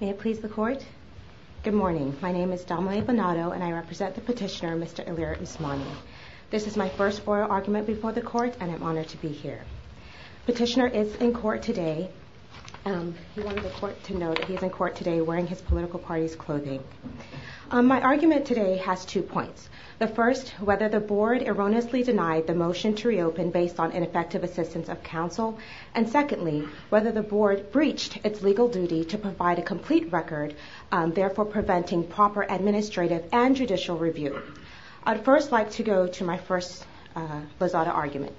May it please the Court. Good morning. My name is Domelie Bonato and I represent the petitioner, Mr. Ilir Osmani. This is my first foil argument before the Court and I'm honored to be here. Petitioner is in court today. He wanted the Court to know that he is in court today wearing his political party's clothing. My argument today has two points. The first, whether the Board erroneously denied the motion to reopen based on ineffective assistance of counsel, and secondly, whether the Board breached its legal duty to provide a complete record, therefore preventing proper administrative and judicial review. I'd first like to go to my first lozada argument.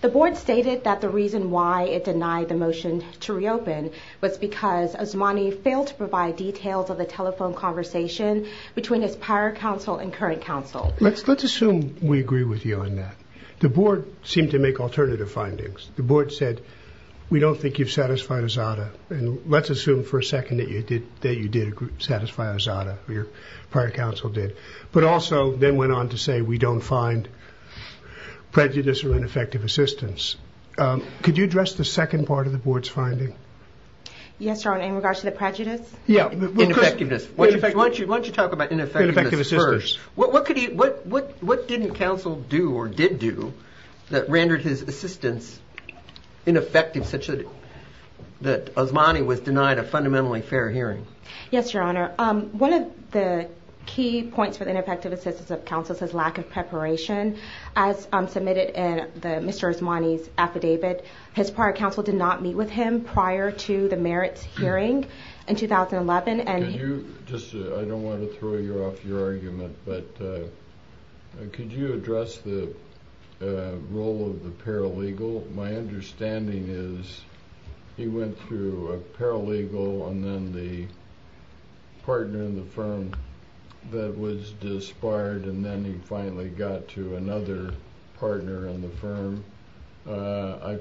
The Board stated that the reason why it denied the motion to reopen was because Osmani failed to provide details of the telephone conversation between his prior counsel and current counsel. Let's assume we agree with you on that. The Board said, we don't think you've satisfied a zada, and let's assume for a second that you did satisfy a zada, your prior counsel did, but also then went on to say we don't find prejudice or ineffective assistance. Could you address the second part of the Board's finding? Yes, Your Honor, in regards to the prejudice? Yeah. Ineffectiveness. Why don't you talk about ineffectiveness first? What didn't counsel do or did do that rendered his assistance ineffective such that Osmani was denied a fundamentally fair hearing? Yes, Your Honor. One of the key points for the ineffective assistance of counsel is his lack of preparation. As submitted in Mr. Osmani's affidavit, his prior counsel did not meet with him prior to the merits hearing in 2011. I don't want to throw you off your argument, but could you address the role of the paralegal? My understanding is he went through a paralegal and then the partner in the firm that was disbarred, and then he finally got to another partner in the firm. I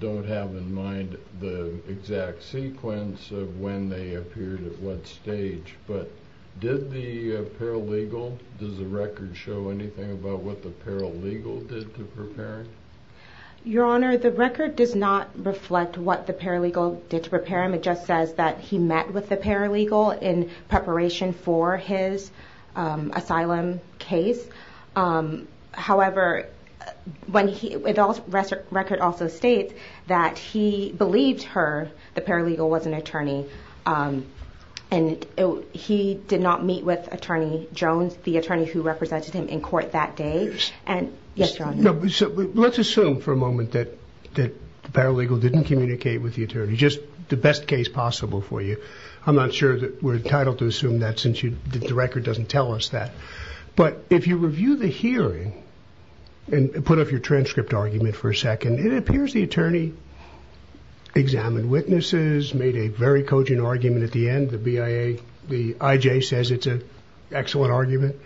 don't have in mind the exact sequence of when they appeared at what stage, but did the paralegal, does the record show anything about what the paralegal did to prepare him? Your Honor, the record does not reflect what the paralegal did to prepare him. It just says that he met with the paralegal in preparation for his asylum case. However, the record also states that he believed her, the paralegal, was an attorney and he did not meet with Attorney Jones, the attorney who represented him in court that day. Let's assume for a moment that the paralegal didn't communicate with the attorney, just the best case possible for you. I'm not sure that we're entitled to assume that since the record doesn't tell us that. But if you review the hearing and put up your transcript argument for a second, it appears the attorney examined witnesses, made a very cogent argument at the end. The I.J. says it's an excellent argument.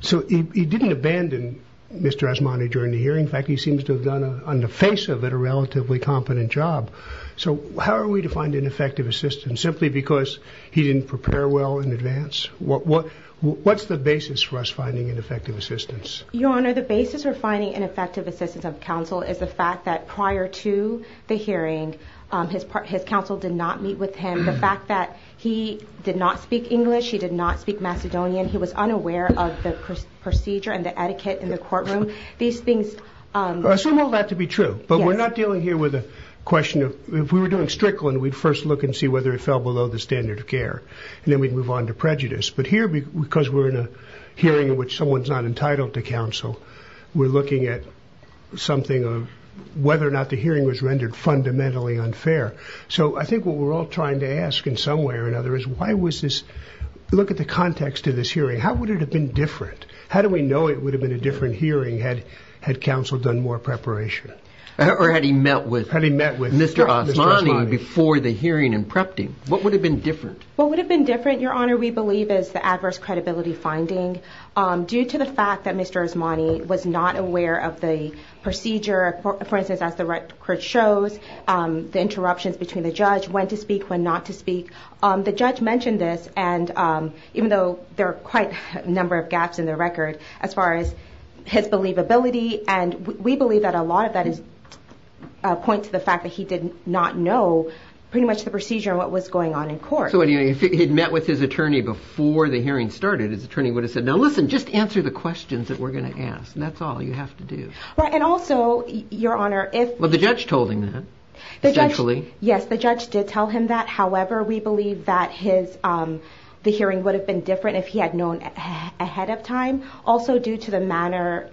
So he didn't abandon Mr. Asmani during the hearing. In fact, he seems to have done, on the face of it, a relatively competent job. So how are we to find an effective assistant simply because he didn't prepare well in advance? What's the basis for us finding an effective assistant? Your Honor, the basis for finding an effective assistant of counsel is the fact that prior to the hearing, his counsel did not meet with him. The fact that he did not speak English, he did not speak Macedonian, he was unaware of the procedure and the etiquette in the courtroom. These things... Assume all that to be true. But we're not dealing here with a question of... If we were doing Strickland, we'd first look and see whether it fell below the standard of care. And then we'd move on to prejudice. But here, because we're in a hearing in which someone's not entitled to counsel, we're looking at something of whether or not the hearing was rendered fundamentally unfair. So I think what we're all trying to ask, in some way or another, is why was this... Look at the context of this hearing. How would it have been different? How do we know it would have been a different hearing had counsel done more preparation? Or had he met with Mr. Asmani before the hearing and prepped him? What would have been different? What would have been different, Your Honor, we believe is the adverse fact that Mr. Asmani was not aware of the procedure. For instance, as the record shows, the interruptions between the judge, when to speak, when not to speak. The judge mentioned this and even though there are quite a number of gaps in the record, as far as his believability, and we believe that a lot of that is a point to the fact that he did not know pretty much the procedure and what was going on in court. So anyway, if he'd met with his attorney before the hearing started, his attorney would have said, now listen, just answer the questions that we're going to ask. That's all you have to do. Right, and also, Your Honor, if... Well, the judge told him that, essentially. Yes, the judge did tell him that. However, we believe that the hearing would have been different if he had known ahead of time. Also, due to the manner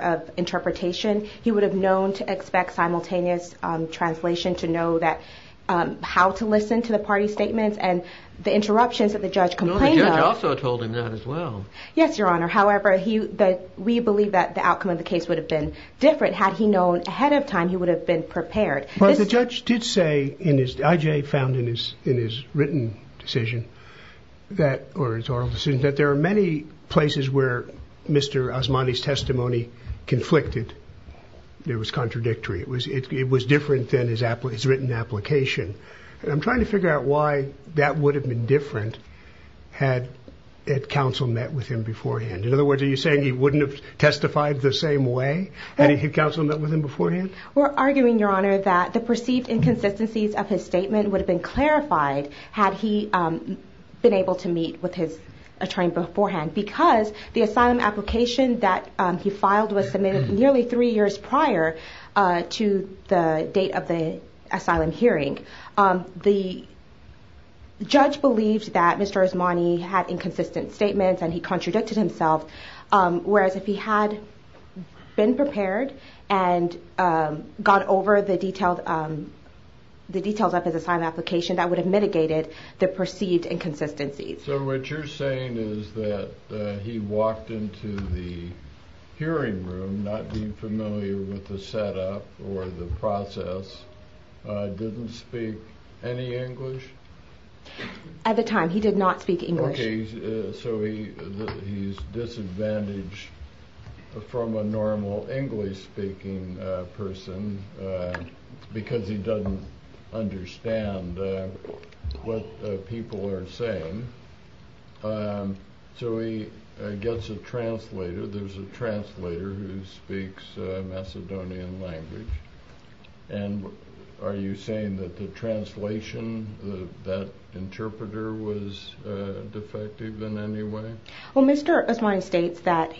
of interpretation, he would have known to expect simultaneous translation to know how to listen to the party statements and the interruptions that the judge complained of. But the judge also told him that as well. Yes, Your Honor. However, we believe that the outcome of the case would have been different had he known ahead of time he would have been prepared. But the judge did say, I.J. found in his written decision, or his oral decision, that there are many places where Mr. Osmani's testimony conflicted. It was contradictory. It was different than his written application. And I'm trying to figure out why that would have been different had counsel met with him beforehand. In other words, are you saying he wouldn't have testified the same way had counsel met with him beforehand? We're arguing, Your Honor, that the perceived inconsistencies of his statement would have been clarified had he been able to meet with his attorney beforehand. Because the asylum application that he filed was submitted nearly three years prior to the date of the asylum hearing. The judge believed that Mr. Osmani had inconsistent statements and he contradicted himself, whereas if he had been prepared and got over the details of his asylum application, that would have mitigated the perceived inconsistencies. So what you're saying is that he walked into the hearing room not being familiar with the process, didn't speak any English? At the time, he did not speak English. So he's disadvantaged from a normal English-speaking person because he doesn't understand what people are saying. So he gets a translator. There's a translator who speaks Macedonian language. And are you saying that the translation, that interpreter was defective in any way? Well, Mr. Osmani states that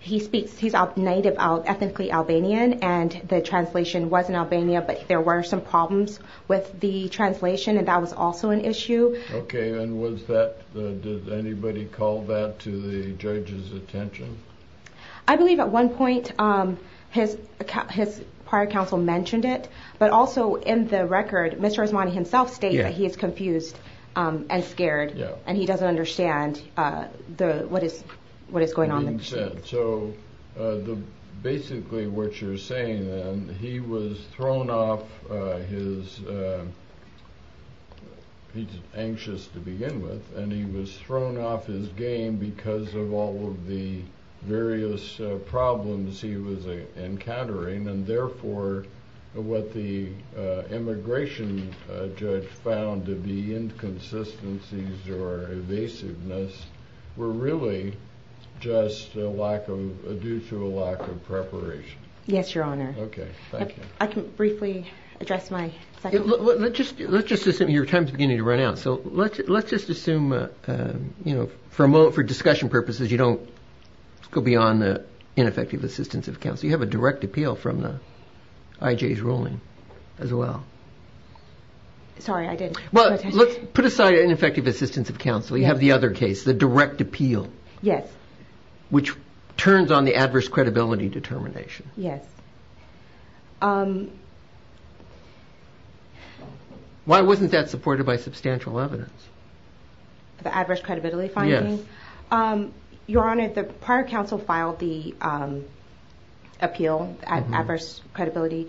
he speaks, he's a native, ethnically Albanian, and the translation was in Albania, but there were some problems with the translation, and that was also an issue. Okay. And was that, did anybody call that to the judge's attention? I believe at one point his prior counsel mentioned it, but also in the record, Mr. Osmani himself states that he is confused and scared and he doesn't understand what is going on in the machine. So basically what you're saying then, he was thrown off his, he's anxious to begin with, and he was thrown off his game because of all of the various problems he was encountering. And therefore, what the immigration judge found to be inconsistencies or evasiveness were really just a lack of, due to a lack of preparation. Yes, Your Honor. Okay. Thank you. I can briefly address my second point. Let's just assume, your time's beginning to run out, so let's just assume, for discussion purposes, you don't go beyond the ineffective assistance of counsel. You have a direct appeal from the IJ's ruling as well. Sorry, I didn't. Well, let's put aside ineffective assistance of counsel. You have the other case, the direct appeal. Yes. Which turns on the adverse credibility determination. Yes. Why wasn't that supported by substantial evidence? The adverse credibility finding? Yes. Your Honor, the prior counsel filed the appeal, adverse credibility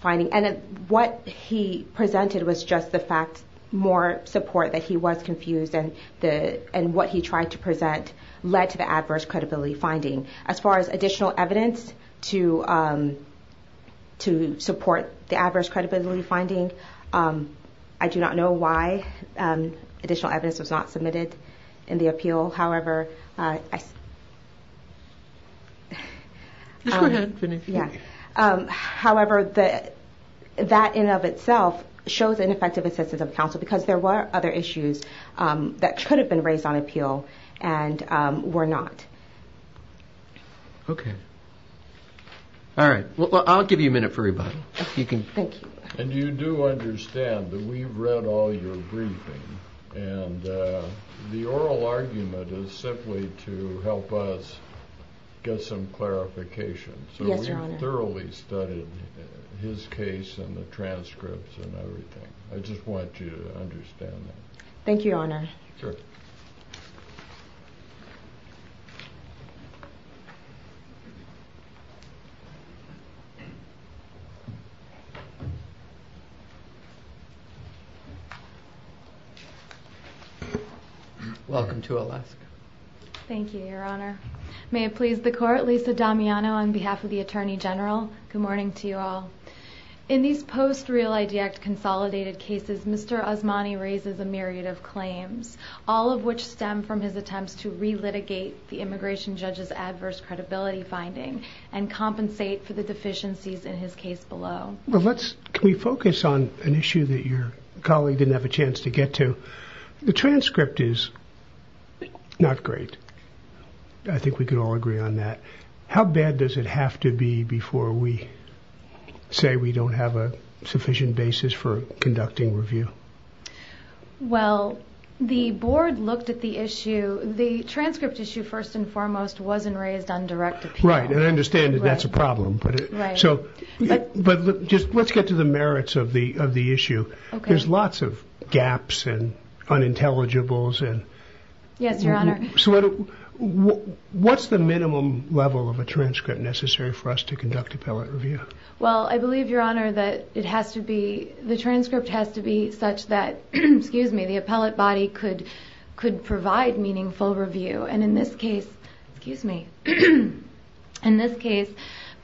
finding, and what he presented was just the fact, more support that he was confused and what he tried to present led to him to support the adverse credibility finding. I do not know why additional evidence was not submitted in the appeal. However, that in and of itself shows ineffective assistance of counsel because there were other issues that could have been raised on appeal and were not. Okay. All right. Well, I'll give you a minute for rebuttal, if you can. Thank you. And you do understand that we've read all your briefing and the oral argument is simply to help us get some clarification. Yes, Your Honor. So we've thoroughly studied his case and the transcripts and everything. I just want you to understand that. Thank you, Your Honor. Sure. Thank you. Welcome to Alaska. Thank you, Your Honor. May it please the court, Lisa Damiano on behalf of the Attorney General. Good morning to you all. In these post Real ID Act consolidated cases, Mr. Osmani raises a myriad of claims, all of which stem from his attempts to re-litigate the immigration judge's adverse credibility finding and compensate for the deficiencies in his case below. Well, can we focus on an issue that your colleague didn't have a chance to get to? The transcript is not great. I think we could all agree on that. How bad does it have to be before we say we don't have a sufficient basis for conducting review? Well, the board looked at the issue. The transcript issue, first and foremost, wasn't raised on direct appeal. And I understand that that's a problem. But let's get to the merits of the issue. There's lots of gaps and unintelligibles. Yes, Your Honor. What's the minimum level of a transcript necessary for us to conduct appellate review? Well, I believe, Your Honor, that the transcript has to be such that, excuse me, the appellate body could provide meaningful review. And in this case,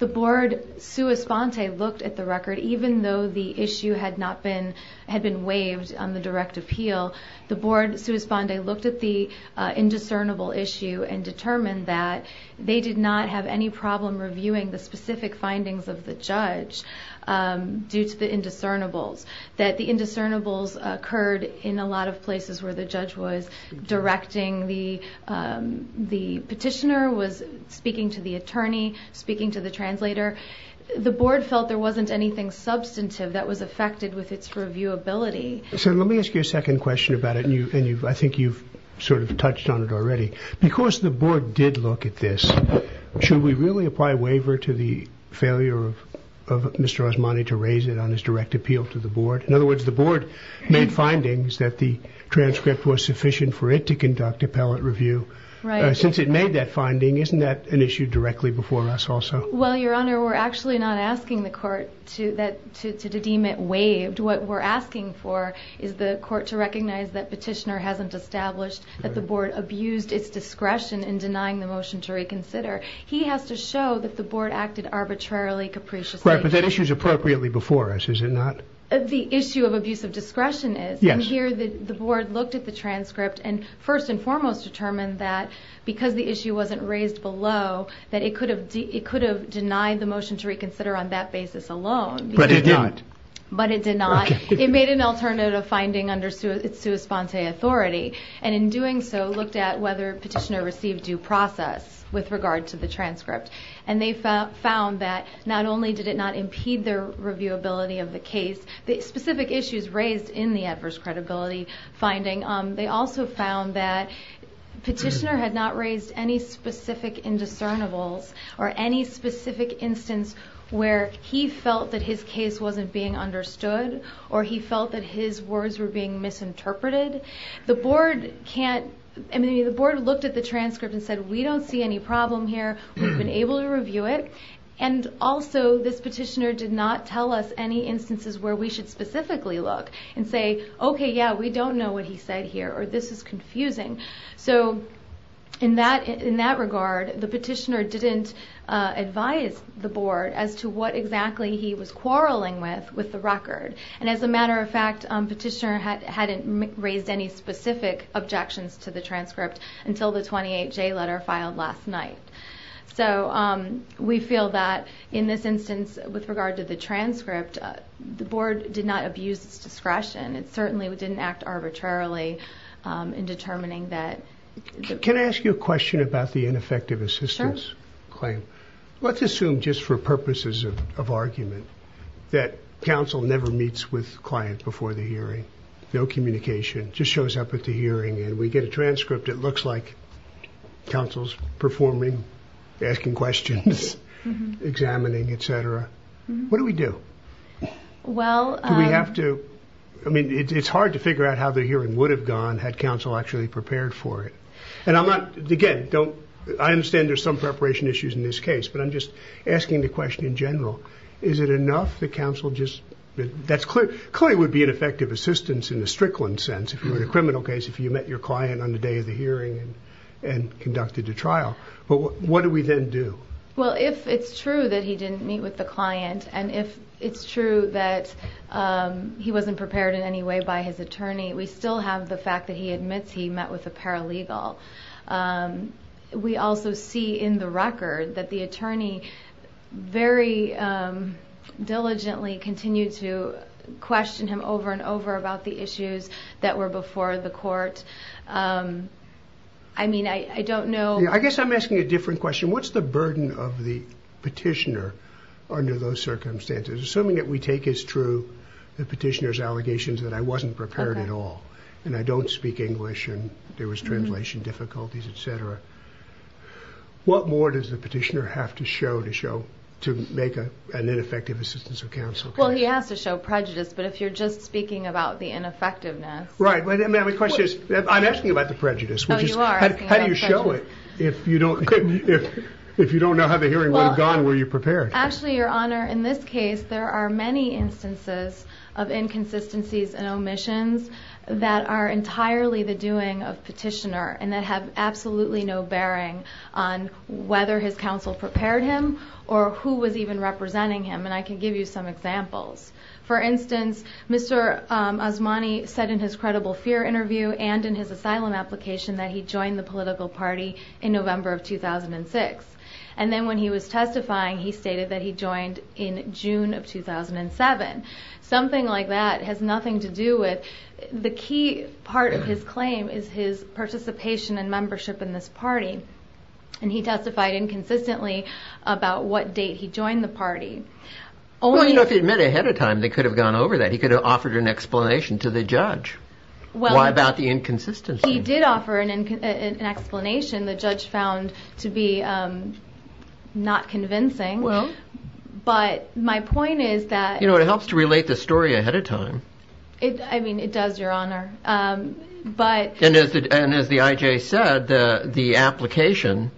the board sua sponte looked at the record. Even though the issue had been waived on the direct appeal, the board sua sponte looked at the indiscernible issue and determined that they did not have any problem reviewing the specific findings of the judge due to the indiscernibles. That the indiscernibles occurred in a lot of places where the judge was the petitioner, was speaking to the attorney, speaking to the translator. The board felt there wasn't anything substantive that was affected with its reviewability. So let me ask you a second question about it. And I think you've sort of touched on it already. Because the board did look at this, should we really apply a waiver to the failure of Mr. Osmani to raise it on his direct appeal to the board? In other words, the board made findings that the transcript was sufficient for it to conduct appellate review. Since it made that finding, isn't that an issue directly before us also? Well, Your Honor, we're actually not asking the court to deem it waived. What we're asking for is the court to recognize that petitioner hasn't established that the board abused its discretion in denying the motion to reconsider. He has to show that the board acted arbitrarily, capriciously. Right, but that issue is appropriately before us, is it not? The issue of abuse of discretion is. Yes. The board looked at the transcript and first and foremost determined that because the issue wasn't raised below, that it could have denied the motion to reconsider on that basis alone. But it did not. But it did not. It made an alternative finding under sua sponte authority. And in doing so, looked at whether petitioner received due process with regard to the transcript. And they found that not only did it not impede their reviewability of the case, the specific issues raised in the adverse credibility finding, they also found that petitioner had not raised any specific indiscernibles or any specific instance where he felt that his case wasn't being understood or he felt that his words were being misinterpreted. The board can't... I mean, the board looked at the transcript and said, we don't see any problem here. We've been able to review it. And also this petitioner did not tell us any instances where we should specifically look and say, okay, yeah, we don't know what he said here or this is confusing. So in that regard, the petitioner didn't advise the board as to what exactly he was quarreling with, with the record. And as a matter of fact, petitioner hadn't raised any specific objections to the transcript until the 28J letter filed last night. So we feel that in this instance, with regard to the transcript, the board did not abuse its discretion. It certainly didn't act arbitrarily in determining that... Can I ask you a question about the ineffective assistance claim? Sure. Let's assume just for purposes of argument that counsel never meets with client before the hearing, no communication, just shows up at the hearing and we get a transcript. It looks like counsel's performing, asking questions, examining, etc. What do we do? Well, we have to... I mean, it's hard to figure out how the hearing would have gone had counsel actually prepared for it. And I'm not, again, don't... I understand there's some preparation issues in this case, but I'm just asking the question in general. Is it enough that counsel just... That's clear, clearly would be ineffective assistance in the Strickland sense, if you were in a criminal case, if you met your client on the day of the hearing and conducted the trial. But what do we then do? Well, if it's true that he didn't meet with the client, and if it's true that he wasn't prepared in any way by his attorney, we still have the fact that he admits he met with a paralegal. We also see in the record that the attorney very diligently continued to question him over and over about the issues that were before the court. I mean, I don't know... I guess I'm asking a different question. What's the burden of the petitioner under those circumstances? Assuming that we take as true the petitioner's allegations that I wasn't prepared at all, and I don't speak English, and there was translation difficulties, etc. What more does the petitioner have to show to make an ineffective assistance of counsel? Well, he has to show prejudice, but if you're just speaking about the ineffectiveness... Right, but my question is... I'm asking about the prejudice, which is how do you show it if you don't know how the hearing would have gone, were you prepared? Actually, Your Honor, in this case, there are many instances of inconsistencies and omissions that are entirely the doing of petitioner and that have absolutely no bearing on whether his counsel prepared him or who was even representing him, and I can give you some examples. For instance, Mr. Osmani said in his Credible Fear interview and in his asylum application that he joined the political party in November of 2006, and then when he was testifying, he stated that he joined in June of 2007. Something like that has nothing to do with... The key part of his claim is his participation and membership in this party, and he testified inconsistently about what date he joined the party. Well, you know, if he'd met ahead of time, they could have gone over that. He could have offered an explanation to the judge. Why about the inconsistency? He did offer an explanation the judge found to be not convincing, but my point is that... You know, it helps to relate the story ahead of time. I mean, it does, Your Honor, but... And as the IJ said, the application,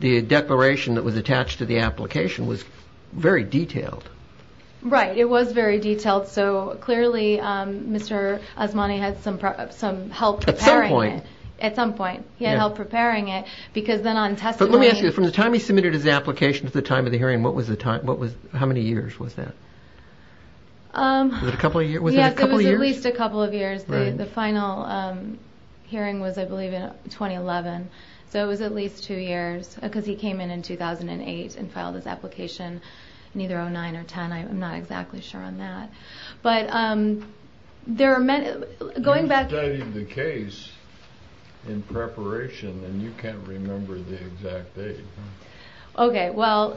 the declaration that was attached to the application was very detailed. Right, it was very detailed. So clearly, Mr. Osmani had some help preparing it. At some point. At some point, he had help preparing it, because then on testimony... But let me ask you, from the time he submitted his application to the time of the hearing, what was the time? How many years was that? Was it a couple of years? Yes, it was at least a couple of years. The final hearing was, I believe, in 2011. So it was at least two years, because he came in in 2008 and filed his application in either 2009 or 2010. I'm not exactly sure on that. But there are many... You studied the case in preparation, and you can't remember the exact date. Okay, well,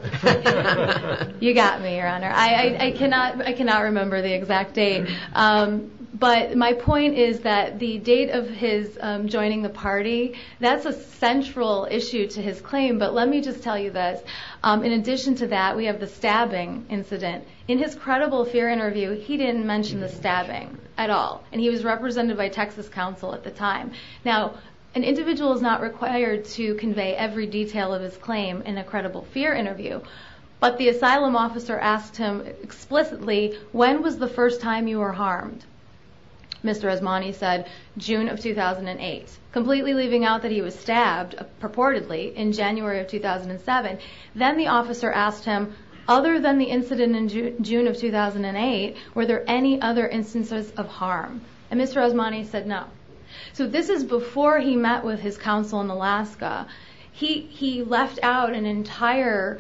you got me, Your Honor. I cannot remember the exact date. But my point is that the date of his joining the party, that's a central issue to his claim. But let me just tell you this. In addition to that, we have the stabbing incident. In his credible fear interview, he didn't mention the stabbing at all. And he was represented by Texas counsel at the time. Now, an individual is not required to convey every detail of his claim in a credible fear interview. But the asylum officer asked him explicitly, when was the first time you were harmed? Mr. Osmani said, June of 2008. Completely leaving out that he was stabbed, purportedly, in January of 2007. Then the officer asked him, other than the incident in June of 2008, were there any other instances of harm? And Mr. Osmani said, no. So this is before he met with his counsel in Alaska. He left out an entire,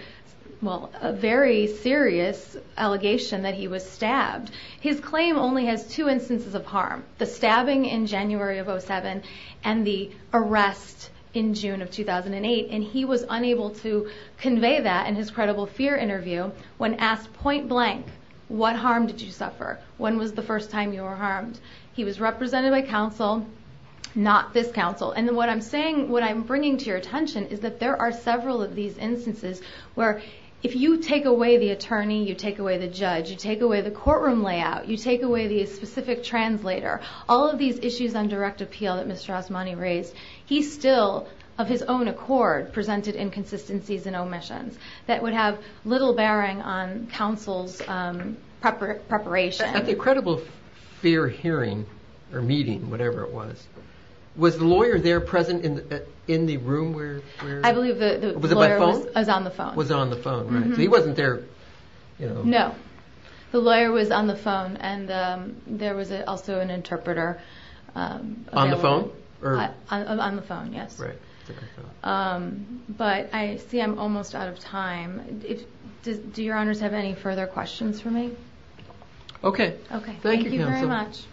well, a very serious allegation that he was stabbed. His claim only has two instances of harm, the stabbing in January of 07, and the arrest in June of 2008. And he was unable to convey that in his credible fear interview when asked point blank, what harm did you suffer? When was the first time you were harmed? He was represented by counsel, not this counsel. And what I'm saying, what I'm bringing to your attention is that there are several of these instances where if you take away the attorney, you take away the judge, you take away the courtroom layout, you take away the specific translator, all of these issues on direct appeal that Mr. Osmani raised, he still, of his own accord, presented inconsistencies and omissions that would have little bearing on counsel's preparation. At the credible fear hearing or meeting, whatever it was, was the lawyer there present in the room where? I believe the lawyer was on the phone. Was on the phone, right. So he wasn't there, you know. No, the lawyer was on the phone and there was also an interpreter. On the phone? On the phone, yes. But I see I'm almost out of time. Do your honors have any further questions for me? Okay. Okay. Thank you very much.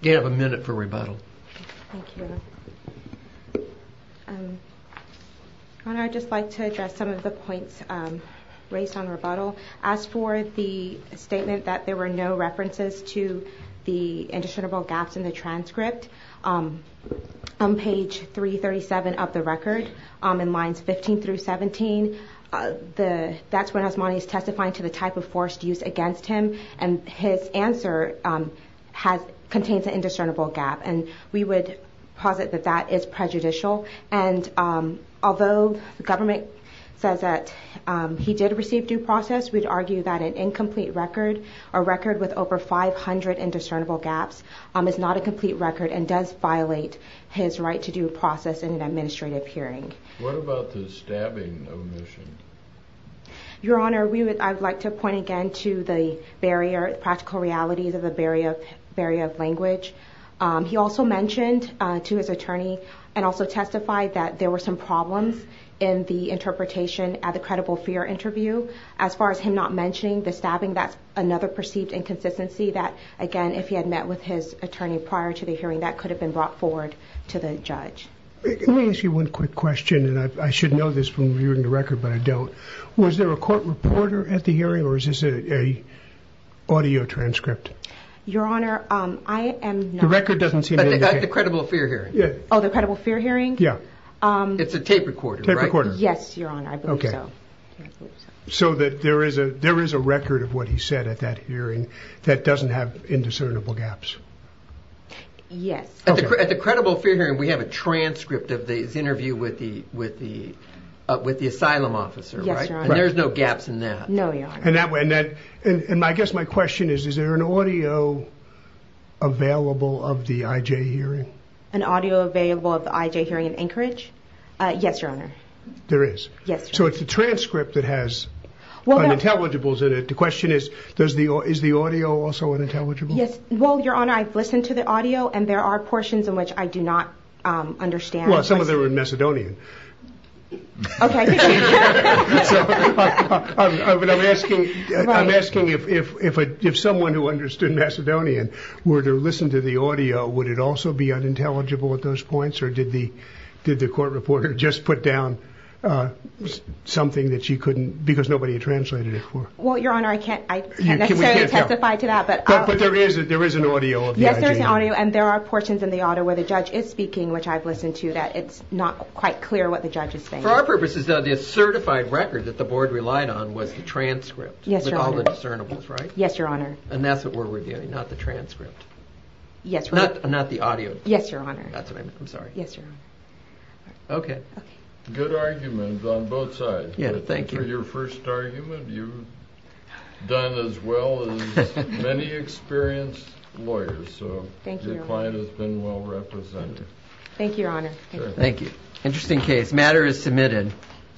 You have a minute for rebuttal. Thank you. Your honor, I'd just like to address some of the points raised on rebuttal. As for the statement that there were no references to the indiscernible gaps in the transcript, on page 337 of the record, in lines 15 through 17, that's when Osmani is testifying to the type of forced use against him and his answer contains an indiscernible gap and we would posit that that is prejudicial and although the government says that he did receive due process, we'd argue that an incomplete record, a record with over 500 indiscernible gaps is not a complete record and does violate his right to due process in an administrative hearing. What about the stabbing omission? Your honor, I'd like to point again to the barrier, the practical realities of the barrier of language. He also mentioned to his attorney and also testified that there were some problems in the interpretation at the credible fear interview. As far as him not mentioning the stabbing, that's another perceived inconsistency that again, if he had met with his attorney prior to the hearing, that could have been brought forward to the judge. Let me ask you one quick question and I should know this from viewing the record, but I don't. Was there a court reporter at the hearing or is this an audio transcript? Your honor, I am not. The record doesn't seem to indicate. At the credible fear hearing. Oh, the credible fear hearing? Yeah. It's a tape recorder, right? Yes, your honor, I believe so. So that there is a record of what he said at that hearing that doesn't have indiscernible gaps. Yes. At the credible fear hearing, we have a transcript of the interview with the asylum officer, right? And there's no gaps in that. No, your honor. And I guess my question is, is there an audio available of the IJ hearing? An audio available of the IJ hearing in Anchorage? Yes, your honor. There is? Yes. So it's a transcript that has intelligibles in it. The question is, is the audio also an intelligible? Yes, well, your honor, I've listened to the audio and there are portions in which I do not understand. Well, some of them are Macedonian. OK. So I'm asking if someone who understood Macedonian were to listen to the audio, would it also be unintelligible at those points? Or did the court reporter just put down something that she couldn't because nobody translated it for? Well, your honor, I can't necessarily testify to that. But there is an audio of the IJ hearing. Yes, there's an audio. And there are portions in the audio where the judge is speaking, which I've listened to that it's not quite clear what the judge is saying. For our purposes, the certified record that the board relied on was the transcript. Yes, your honor. With all the discernibles, right? Yes, your honor. And that's what we're reviewing, not the transcript. Yes, your honor. Not the audio. Yes, your honor. That's what I mean. I'm sorry. Yes, your honor. OK. Good argument on both sides. Yeah, thank you. For your first argument, you've done as well as many experienced lawyers. So your client has been well represented. Thank you, your honor. Thank you. Interesting case. Matter is submitted.